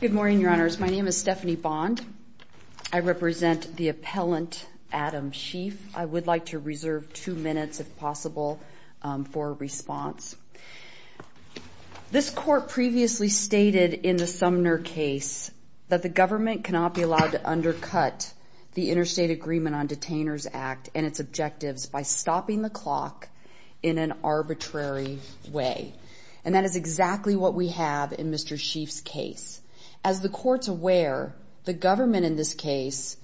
Good morning, Your Honors. My name is Stephanie Bond. I represent the appellant, Adam Sheafe. I would like to reserve two minutes, if possible, for a response. This Court previously stated in the Sumner case that the government cannot be allowed to undercut the Interstate Agreement on Detainers Act and its objectives by stopping the clock in an arbitrary way. And that is exactly what we have in Mr. Sheafe's case. As the Court's aware, the government in this case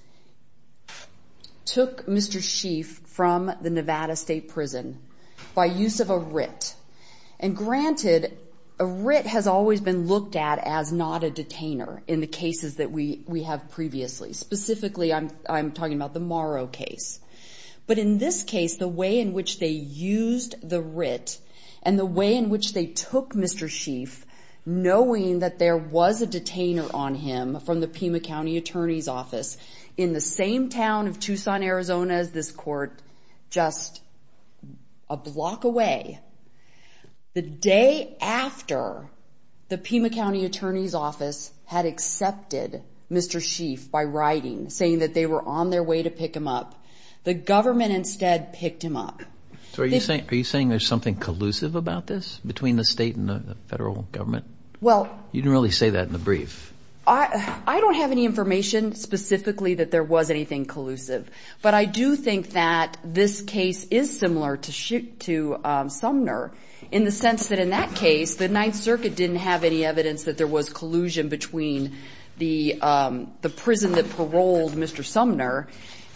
took Mr. Sheafe from the Nevada State Prison by use of a writ. And granted, a writ has always been looked at as not a detainer in the cases that we have previously. Specifically, I'm talking about the Morrow case. But in this case, the way in which they used the writ, and the way in which they took Mr. Sheafe, knowing that there was a detainer on him from the Pima County Attorney's Office, in the same town of Tucson, Arizona as this Court, just a block away, the day after the Pima County Attorney's Office had accepted Mr. Sheafe by writing, saying that they were on their way to pick him up, the government instead picked him up. So are you saying there's something collusive about this between the state and the federal government? You didn't really say that in the brief. I don't have any information specifically that there was anything collusive. But I do think that this case is similar to Sumner in the sense that in that case, the Ninth Circuit didn't have any evidence that there was collusion between the prison that paroled Mr. Sumner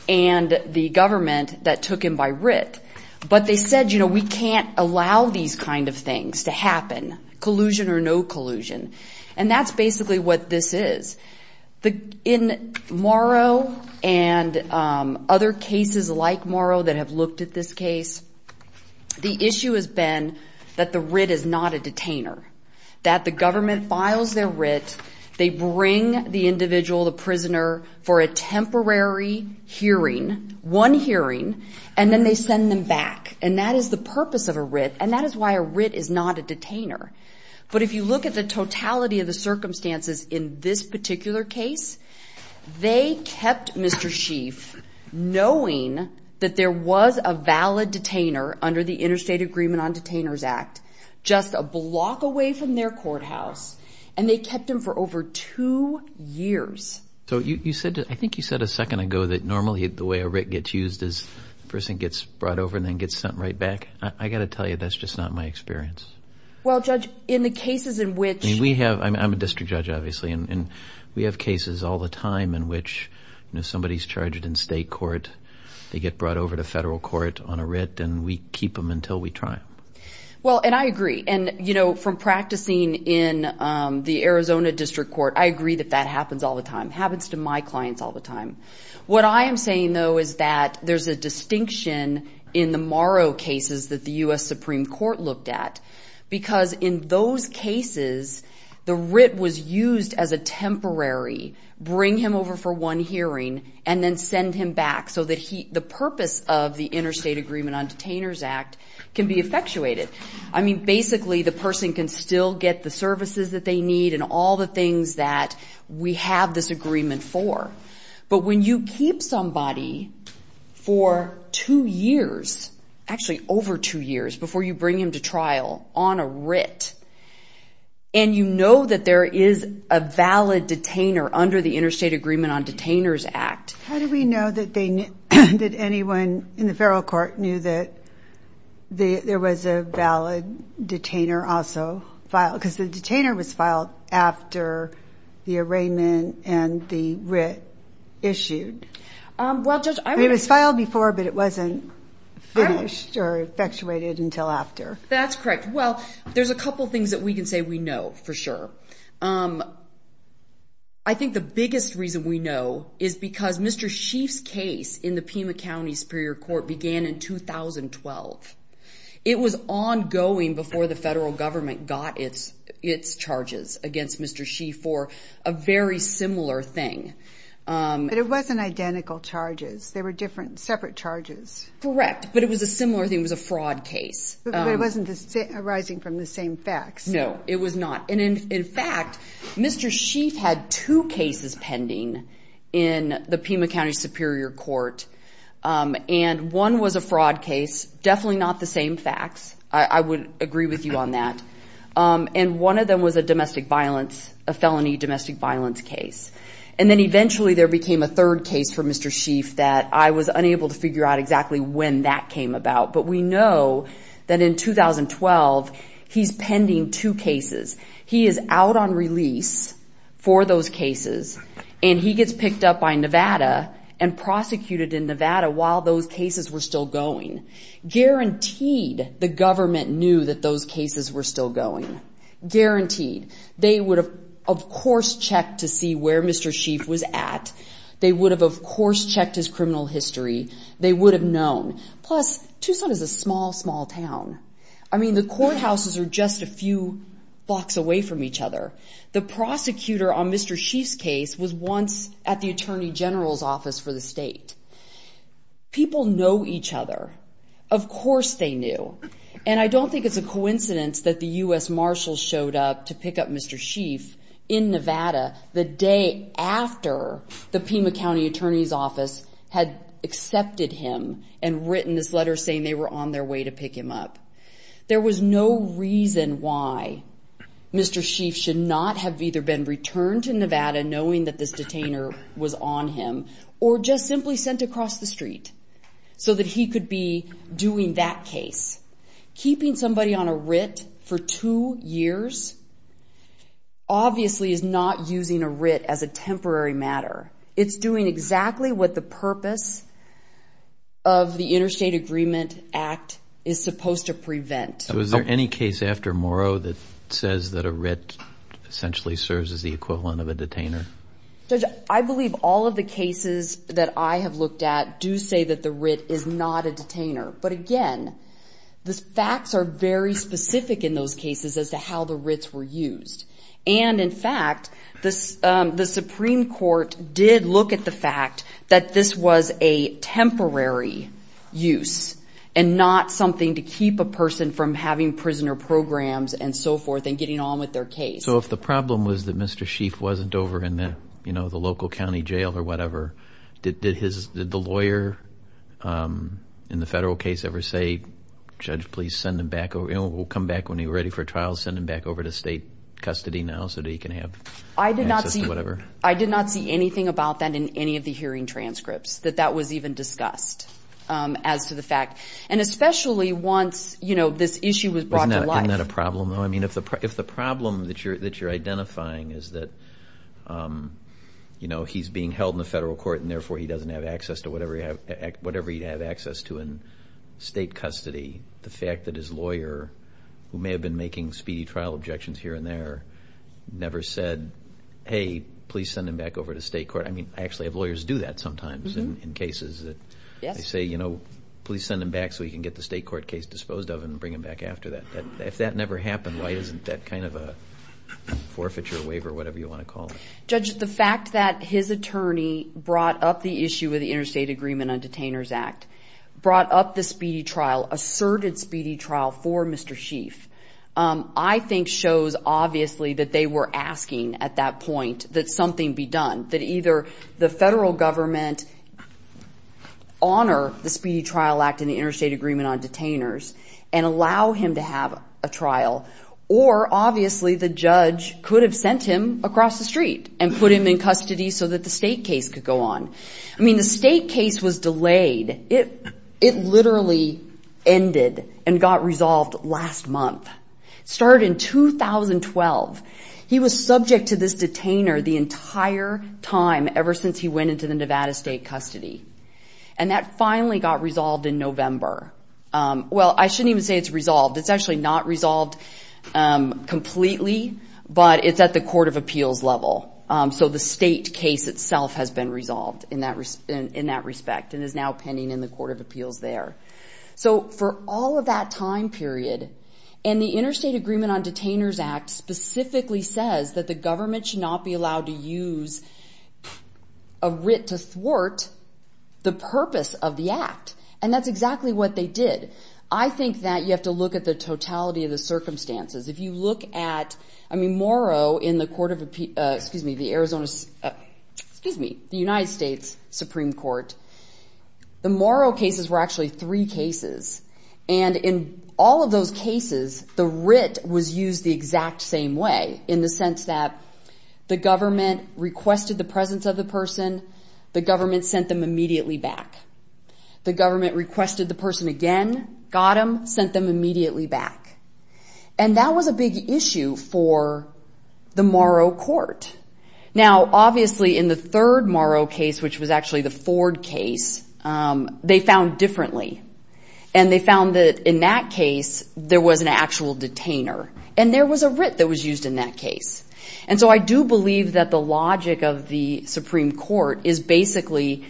and the government that took him by writ. But they said, you know, we can't allow these kind of things to happen, collusion or no collusion. And that's basically what this is. In Morrow and other cases like Morrow that have looked at this case, the issue has been that the writ is not a detainer, that the government files their writ, they bring the individual, the prisoner, for a temporary hearing, one hearing, and then they send them back. And that is the purpose of a writ, and that is why a writ is not a detainer. But if you look at the totality of the circumstances in this particular case, they kept Mr. Sheaf knowing that there was a valid detainer under the Interstate Agreement on Detainers Act just a block away from their courthouse, and they kept him for over two years. So you said, I think you said a second ago that normally the way a writ gets used is the person gets brought over and then gets sent right back. I've got to tell you, that's just not my experience. Well, Judge, in the cases in which... I mean, we have, I'm a district judge, obviously, and we have cases all the time in which, you know, somebody's charged in state court, they get brought over to federal court on a writ, and we keep them until we try them. Well, and I agree. And, you know, from practicing in the Arizona District Court, I agree that that happens all the time. It happens to my clients all the time. What I am saying, though, is that there's a distinction in the Morrow cases that the U.S. Supreme Court looked at, because in those cases, the writ was used as a temporary bring him over for one hearing and then send him back so that the purpose of the Interstate Agreement on Detainers Act can be effectuated. I mean, basically, the person can still get the services that they need and all the things that we have this agreement for. But when you keep somebody for two years, actually over two years, before you bring him to trial on a writ, and you know that there is a valid detainer under the Interstate Agreement on Detainers Act... How do we know that anyone in the federal court knew that there was a valid detainer also filed? Because the detainer was filed after the arraignment and the writ issued. It was filed before, but it wasn't finished or effectuated until after. That's correct. Well, there's a couple things that we can say we know for sure. I think the biggest reason we know is because Mr. Sheaf's case in the Pima County Superior Court began in 2012. It was ongoing before the federal government got its charges against Mr. Sheaf for a very similar thing. But it wasn't identical charges. They were different, separate charges. Correct, but it was a similar thing. It was a fraud case. But it wasn't arising from the same facts. No, it was not. And in fact, Mr. Sheaf had two cases pending in the Pima County Superior Court, and one was a fraud case, definitely not the same facts. I would agree with you on that. And one of them was a domestic violence, a felony domestic violence case. And then eventually there became a third case for Mr. Sheaf that I was unable to figure out exactly when that came about. But we know that in 2012, he's pending two cases. He is out on release for those cases, and he gets picked up by Nevada and prosecuted in Nevada while those cases were still going. Guaranteed, the government knew that those cases were still going. Guaranteed. They would have, of course, checked to see where Mr. Sheaf was at. They would have, of course, checked his criminal history. They would have known. Plus, Tucson is a small, small town. I mean, the courthouses are just a few blocks away from each other. The prosecutor on Mr. Sheaf's case was once at the Attorney General's office for the state. People know each other. Of course they knew. And I don't think it's a coincidence that the U.S. Marshals showed up to pick up Mr. Sheaf in Nevada the day after the Pima County Attorney's office had accepted him and written this letter saying they were on their way to pick him up. There was no reason why Mr. Sheaf should not have either been returned to Nevada knowing that this detainer was on him or just simply sent across the street so that he could be doing that case. Keeping somebody on a writ for two years obviously is not using a writ as a temporary matter. It's doing exactly what the purpose of the Interstate Agreement Act is supposed to prevent. Was there any case after Morrow that says that a writ essentially serves as the equivalent of a detainer? Judge, I believe all of the cases that I have looked at do say that the writ is not a detainer. But again, the facts are very specific in those cases as to how the writs were used. And in fact, the Supreme Court did look at the fact that this was a temporary use and not something to keep a person from having prisoner programs and so forth and getting on with their case. So if the problem was that Mr. Sheaf wasn't over in the local county jail or whatever, did the lawyer in the federal case ever say, Judge, please send him back or we'll come back when you're ready for trial, send him back over to state custody now so that he can have access to whatever? I did not see anything about that in any of the hearing transcripts that that was even discussed as to the fact. And especially once this issue was brought to life. Isn't that a problem though? I mean, if the problem that you're identifying is that, you know, he's being held in the federal court and therefore he doesn't have access to whatever he'd have access to in state custody, the fact that his lawyer, who may have been making speedy trial objections here and there, never said, hey, please send him back over to state court. I mean, I actually have lawyers do that sometimes in cases that say, you know, please send him back so he can get the state court case disposed of and bring him back after that. If that never happened, why isn't that kind of a forfeiture, waiver, whatever you want to call it? Judge, the fact that his attorney brought up the issue with the Interstate Agreement on Detainers Act, brought up the speedy trial, asserted speedy trial for Mr. Sheaf, I think shows obviously that they were asking at that point that something be done, that either the federal government honor the Speedy Trial Act and the Interstate Agreement on Detainers and allow him to have a trial, or obviously the judge could have sent him across the street and put him in custody so that the state case could go on. I mean, the state case was delayed. It literally ended and got resolved last month. It started in 2012. He was subject to this detainer the entire time ever since he went into the Nevada state custody. And that finally got resolved in November. Well, I shouldn't even say it's resolved. It's actually not resolved completely, but it's at the court of appeals level. So the state case itself has been resolved in that respect and is now pending in the court of appeals there. So for all of that time period, and the Interstate Agreement on Detainers Act specifically says that the government should not be allowed to use a writ to thwart the purpose of the act. And that's exactly what they did. I think that you have to look at the totality of the circumstances. If you look at, I mean, Morrow in the court of appeals, excuse me, the Arizona, excuse me, the United States Supreme Court, the Morrow cases were actually three cases. And in all of those cases, the writ was used the exact same way in the sense that the government requested the presence of the person. The government sent them immediately back. The government requested the person again, got them, sent them immediately back. And that was a big issue for the Morrow court. Now, obviously, in the third Morrow case, which was actually the Ford case, they found differently. And they found that in that case, there was an actual detainer. And there was a writ that was used in that case. And so I do believe that the logic of the Supreme Court is basically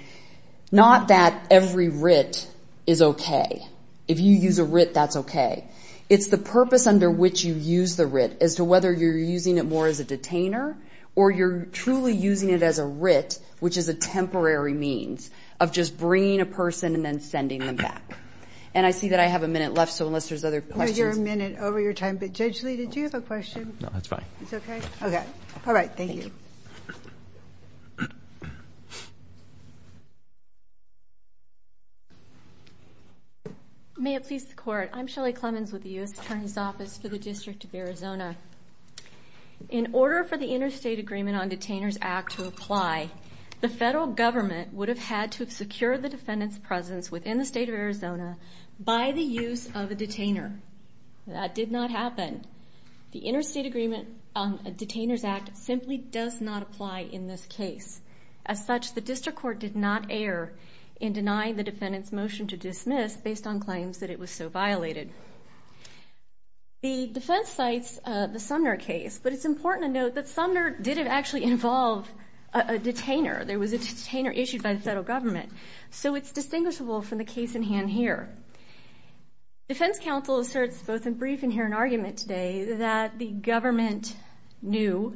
not that every writ is okay. If you use a writ, that's okay. It's the purpose under which you use the writ as to whether you're using it more as a detainer or you're truly using it as a writ, which is a temporary means of just bringing a person and then sending them back. And I see that I have a minute left, so unless there's other questions. No, you're a minute over your time. But Judge Lee, did you have a question? No, that's fine. It's okay? Okay. All right, thank you. May it please the Court. I'm Shelley Clemens with the U.S. Attorney's Office for the District of Arizona. In order for the Interstate Agreement on Detainers Act to apply, the federal government would have had to have secured the defendant's presence within the State of Arizona by the use of a detainer. That did not happen. The Interstate Agreement on Detainers Act simply does not apply in this case. As such, the District Court did not err in denying the defendant's motion to dismiss based on claims that it was so violated. The defense cites the Sumner case, but it's important to note that Sumner didn't actually involve a detainer. There was a detainer issued by the federal government. So it's distinguishable from the case at hand here. Defense counsel asserts both in brief and here in argument today that the government knew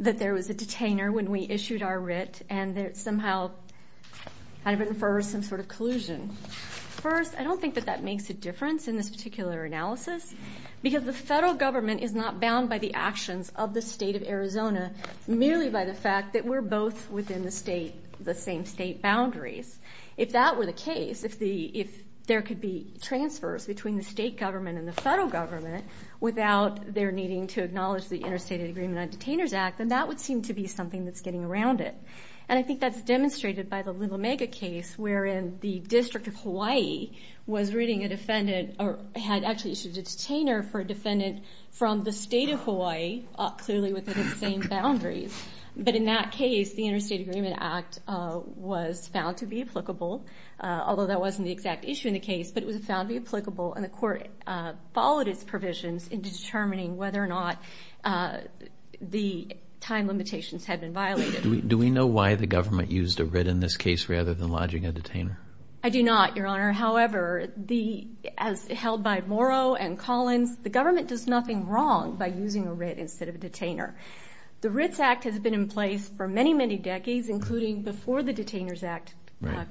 that there was a detainer when we issued our writ, and that it somehow kind of infers some sort of collusion. First, I don't think that that makes a difference in this particular analysis because the federal government is not bound by the actions of the State of Arizona merely by the fact that we're both within the same state boundaries. If that were the case, if there could be transfers between the state government and the federal government without their needing to acknowledge the Interstate Agreement on Detainers Act, then that would seem to be something that's getting around it. And I think that's demonstrated by the Little Omega case, wherein the District of Hawaii was reading a defendant or had actually issued a detainer for a defendant from the State of Hawaii, clearly within the same boundaries. But in that case, the Interstate Agreement Act was found to be applicable, although that wasn't the exact issue in the case, but it was found to be applicable, and the court followed its provisions in determining whether or not the time limitations had been violated. Do we know why the government used a writ in this case rather than lodging a detainer? I do not, Your Honor. However, as held by Morrow and Collins, the government does nothing wrong by using a writ instead of a detainer. The Writs Act has been in place for many, many decades, including before the Detainers Act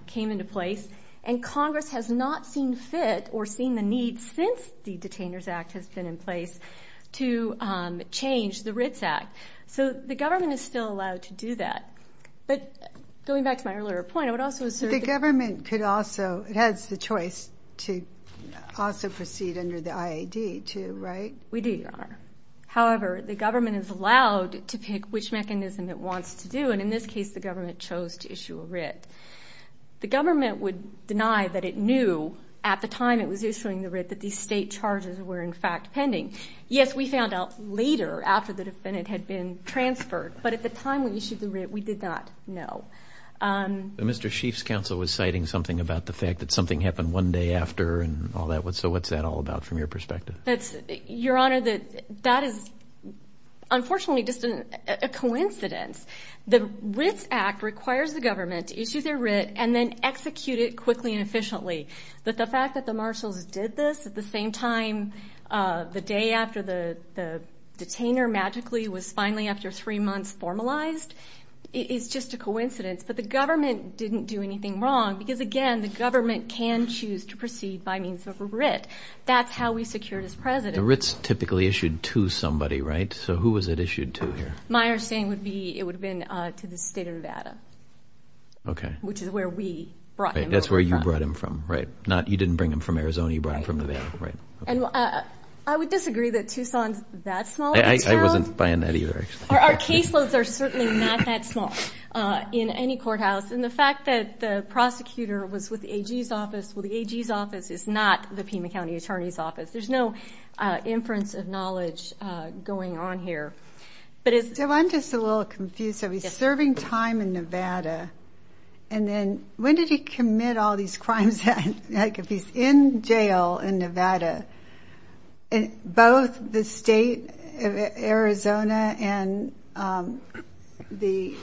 came into place, and Congress has not seen fit or seen the need since the Detainers Act has been in place to change the Writs Act. So the government is still allowed to do that. But going back to my earlier point, I would also assert that the government could also, it has the choice to also proceed under the IAD too, right? We do, Your Honor. However, the government is allowed to pick which mechanism it wants to do, and in this case the government chose to issue a writ. The government would deny that it knew at the time it was issuing the writ that these state charges were in fact pending. Yes, we found out later after the defendant had been transferred, but at the time when we issued the writ we did not know. Mr. Sheaf's counsel was citing something about the fact that something happened one day after and all that. So what's that all about from your perspective? Your Honor, that is unfortunately just a coincidence. The Writs Act requires the government to issue their writ and then execute it quickly and efficiently. But the fact that the marshals did this at the same time, the day after the detainer magically was finally, after three months, formalized, is just a coincidence. But the government didn't do anything wrong because, again, the government can choose to proceed by means of a writ. That's how we secured his presidency. The writ's typically issued to somebody, right? So who was it issued to here? My understanding would be it would have been to the state of Nevada, which is where we brought him over from. Right. You didn't bring him from Arizona. You brought him from Nevada. Right. I would disagree that Tucson's that small of a town. I wasn't buying that either. Our caseloads are certainly not that small in any courthouse. And the fact that the prosecutor was with the AG's office, well, the AG's office is not the Pima County Attorney's office. There's no inference of knowledge going on here. So I'm just a little confused. So he's serving time in Nevada. And then when did he commit all these crimes? Like if he's in jail in Nevada, both the state of Arizona and the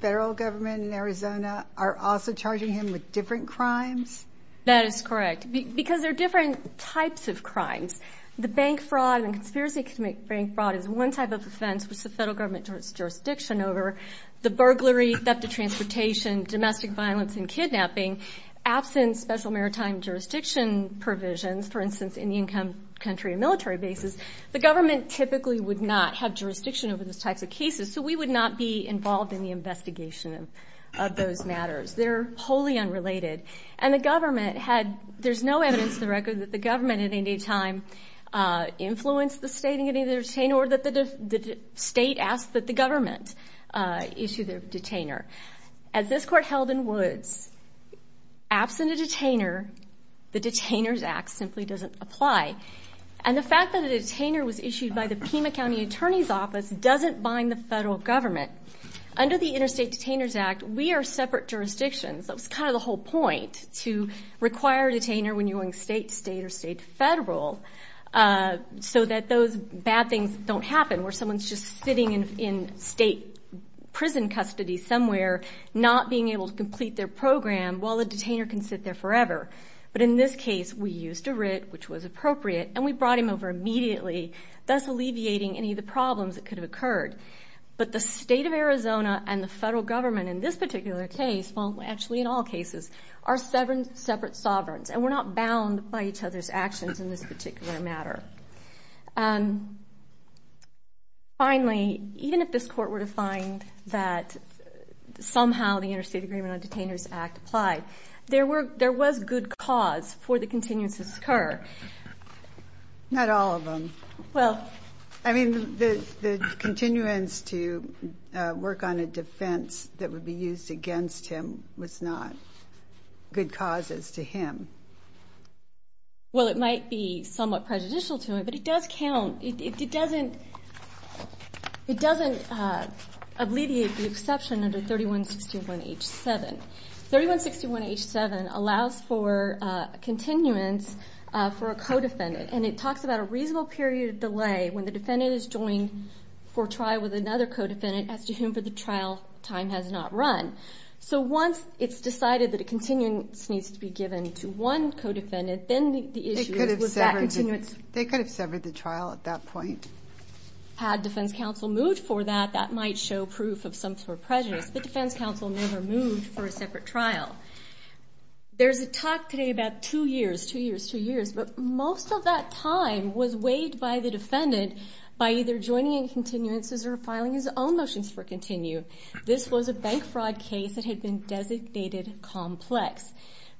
federal government in Arizona are also charging him with different crimes? That is correct. Because there are different types of crimes. The bank fraud and conspiracy to commit bank fraud is one type of offense which the federal government has jurisdiction over. The burglary, theft of transportation, domestic violence and kidnapping, absent special maritime jurisdiction provisions, for instance, in the income country and military bases, the government typically would not have jurisdiction over those types of cases. So we would not be involved in the investigation of those matters. They're wholly unrelated. And the government had no evidence to the record that the government at any time influenced the state in any way or that the state asked the government to issue the detainer. As this court held in Woods, absent a detainer, the Detainers Act simply doesn't apply. And the fact that a detainer was issued by the Pima County Attorney's Office doesn't bind the federal government. Under the Interstate Detainers Act, we are separate jurisdictions. That was kind of the whole point, to require a detainer when you're going state to state or state to federal so that those bad things don't happen where someone's just sitting in state prison custody somewhere, not being able to complete their program, while the detainer can sit there forever. But in this case, we used a writ, which was appropriate, and we brought him over immediately, thus alleviating any of the problems that could have occurred. But the state of Arizona and the federal government in this particular case, well, actually in all cases, are seven separate sovereigns, and we're not bound by each other's actions in this particular matter. Finally, even if this court were to find that somehow the Interstate Agreement on Detainers Act applied, there was good cause for the continuance to occur. Not all of them. I mean, the continuance to work on a defense that would be used against him was not good causes to him. Well, it might be somewhat prejudicial to him, but it does count. It doesn't alleviate the exception under 3161H7. 3161H7 allows for continuance for a co-defendant, and it talks about a reasonable period of delay when the defendant is joined for trial with another co-defendant as to whom for the trial time has not run. So once it's decided that a continuance needs to be given to one co-defendant, then the issue is with that continuance. They could have severed the trial at that point. Had defense counsel moved for that, that might show proof of some sort of prejudice. The defense counsel never moved for a separate trial. There's a talk today about two years, two years, two years, but most of that time was weighed by the defendant by either joining in continuances or filing his own motions for continue. This was a bank fraud case that had been designated complex.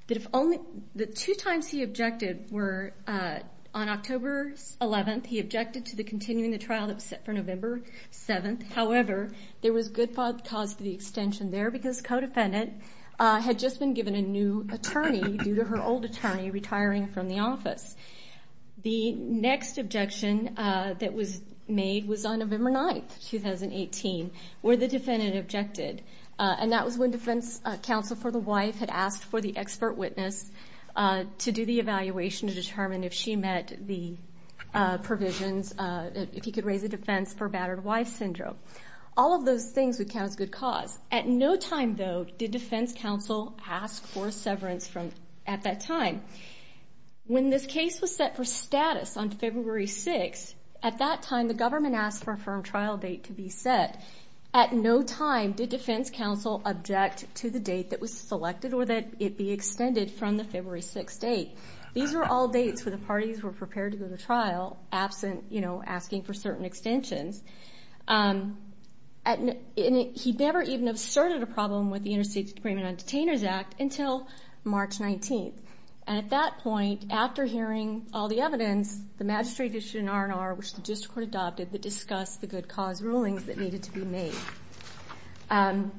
The two times he objected were on October 11th, he objected to continuing the trial that was set for November 7th. However, there was good cause for the extension there because the co-defendant had just been given a new attorney due to her old attorney retiring from the office. The next objection that was made was on November 9th, 2018, where the defendant objected, and that was when defense counsel for the wife had asked for the expert witness to do the evaluation to determine if she met the provisions, if he could raise the defense for battered wife syndrome. All of those things would count as good cause. At no time, though, did defense counsel ask for severance at that time. When this case was set for status on February 6th, at that time the government asked for a firm trial date to be set. At no time did defense counsel object to the date that was selected or that it be extended from the February 6th date. These were all dates where the parties were prepared to go to trial absent asking for certain extensions. He never even asserted a problem with the Interstate Agreement on Detainers Act until March 19th. At that point, after hearing all the evidence, the magistrate issued an R&R, which the district court adopted, that discussed the good cause rulings that needed to be made. In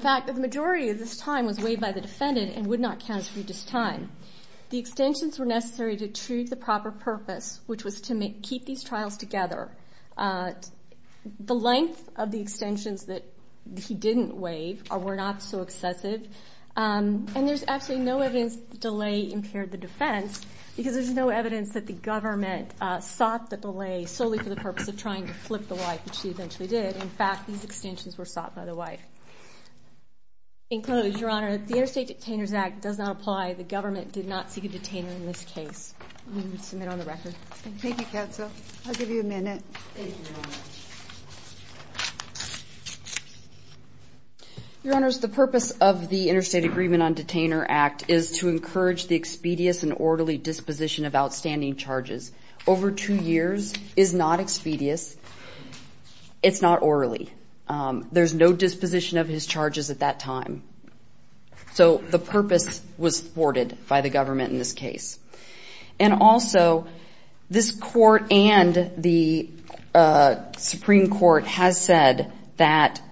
fact, the majority of this time was waived by the defendant and would not count as religious time. The extensions were necessary to achieve the proper purpose, which was to keep these trials together. The length of the extensions that he didn't waive were not so excessive, and there's absolutely no evidence that the delay impaired the defense because there's no evidence that the government sought the delay solely for the purpose of trying to flip the wife, which she eventually did. In fact, these extensions were sought by the wife. In close, Your Honor, if the Interstate Detainers Act does not apply, the government did not seek a detainer in this case. We would submit on the record. Thank you, Katza. I'll give you a minute. Your Honors, the purpose of the Interstate Agreement on Detainers Act is to encourage the expedious and orderly disposition of outstanding charges. Over two years is not expedious. It's not orderly. There's no disposition of his charges at that time. So the purpose was thwarted by the government in this case. And also, this court and the Supreme Court has said that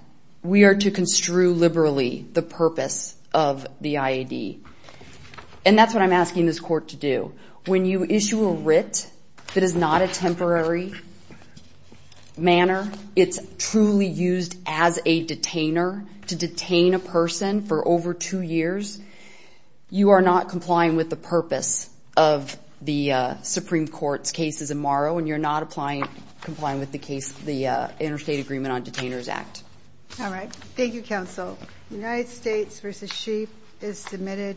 we are to construe liberally the purpose of the IAD. And that's what I'm asking this court to do. When you issue a writ that is not a temporary manner, it's truly used as a detainer to detain a person for over two years, you are not complying with the purpose of the Supreme Court's cases in Morrow, and you're not complying with the Interstate Agreement on Detainers Act. All right. Thank you, Counsel. United States v. Sheep is submitted.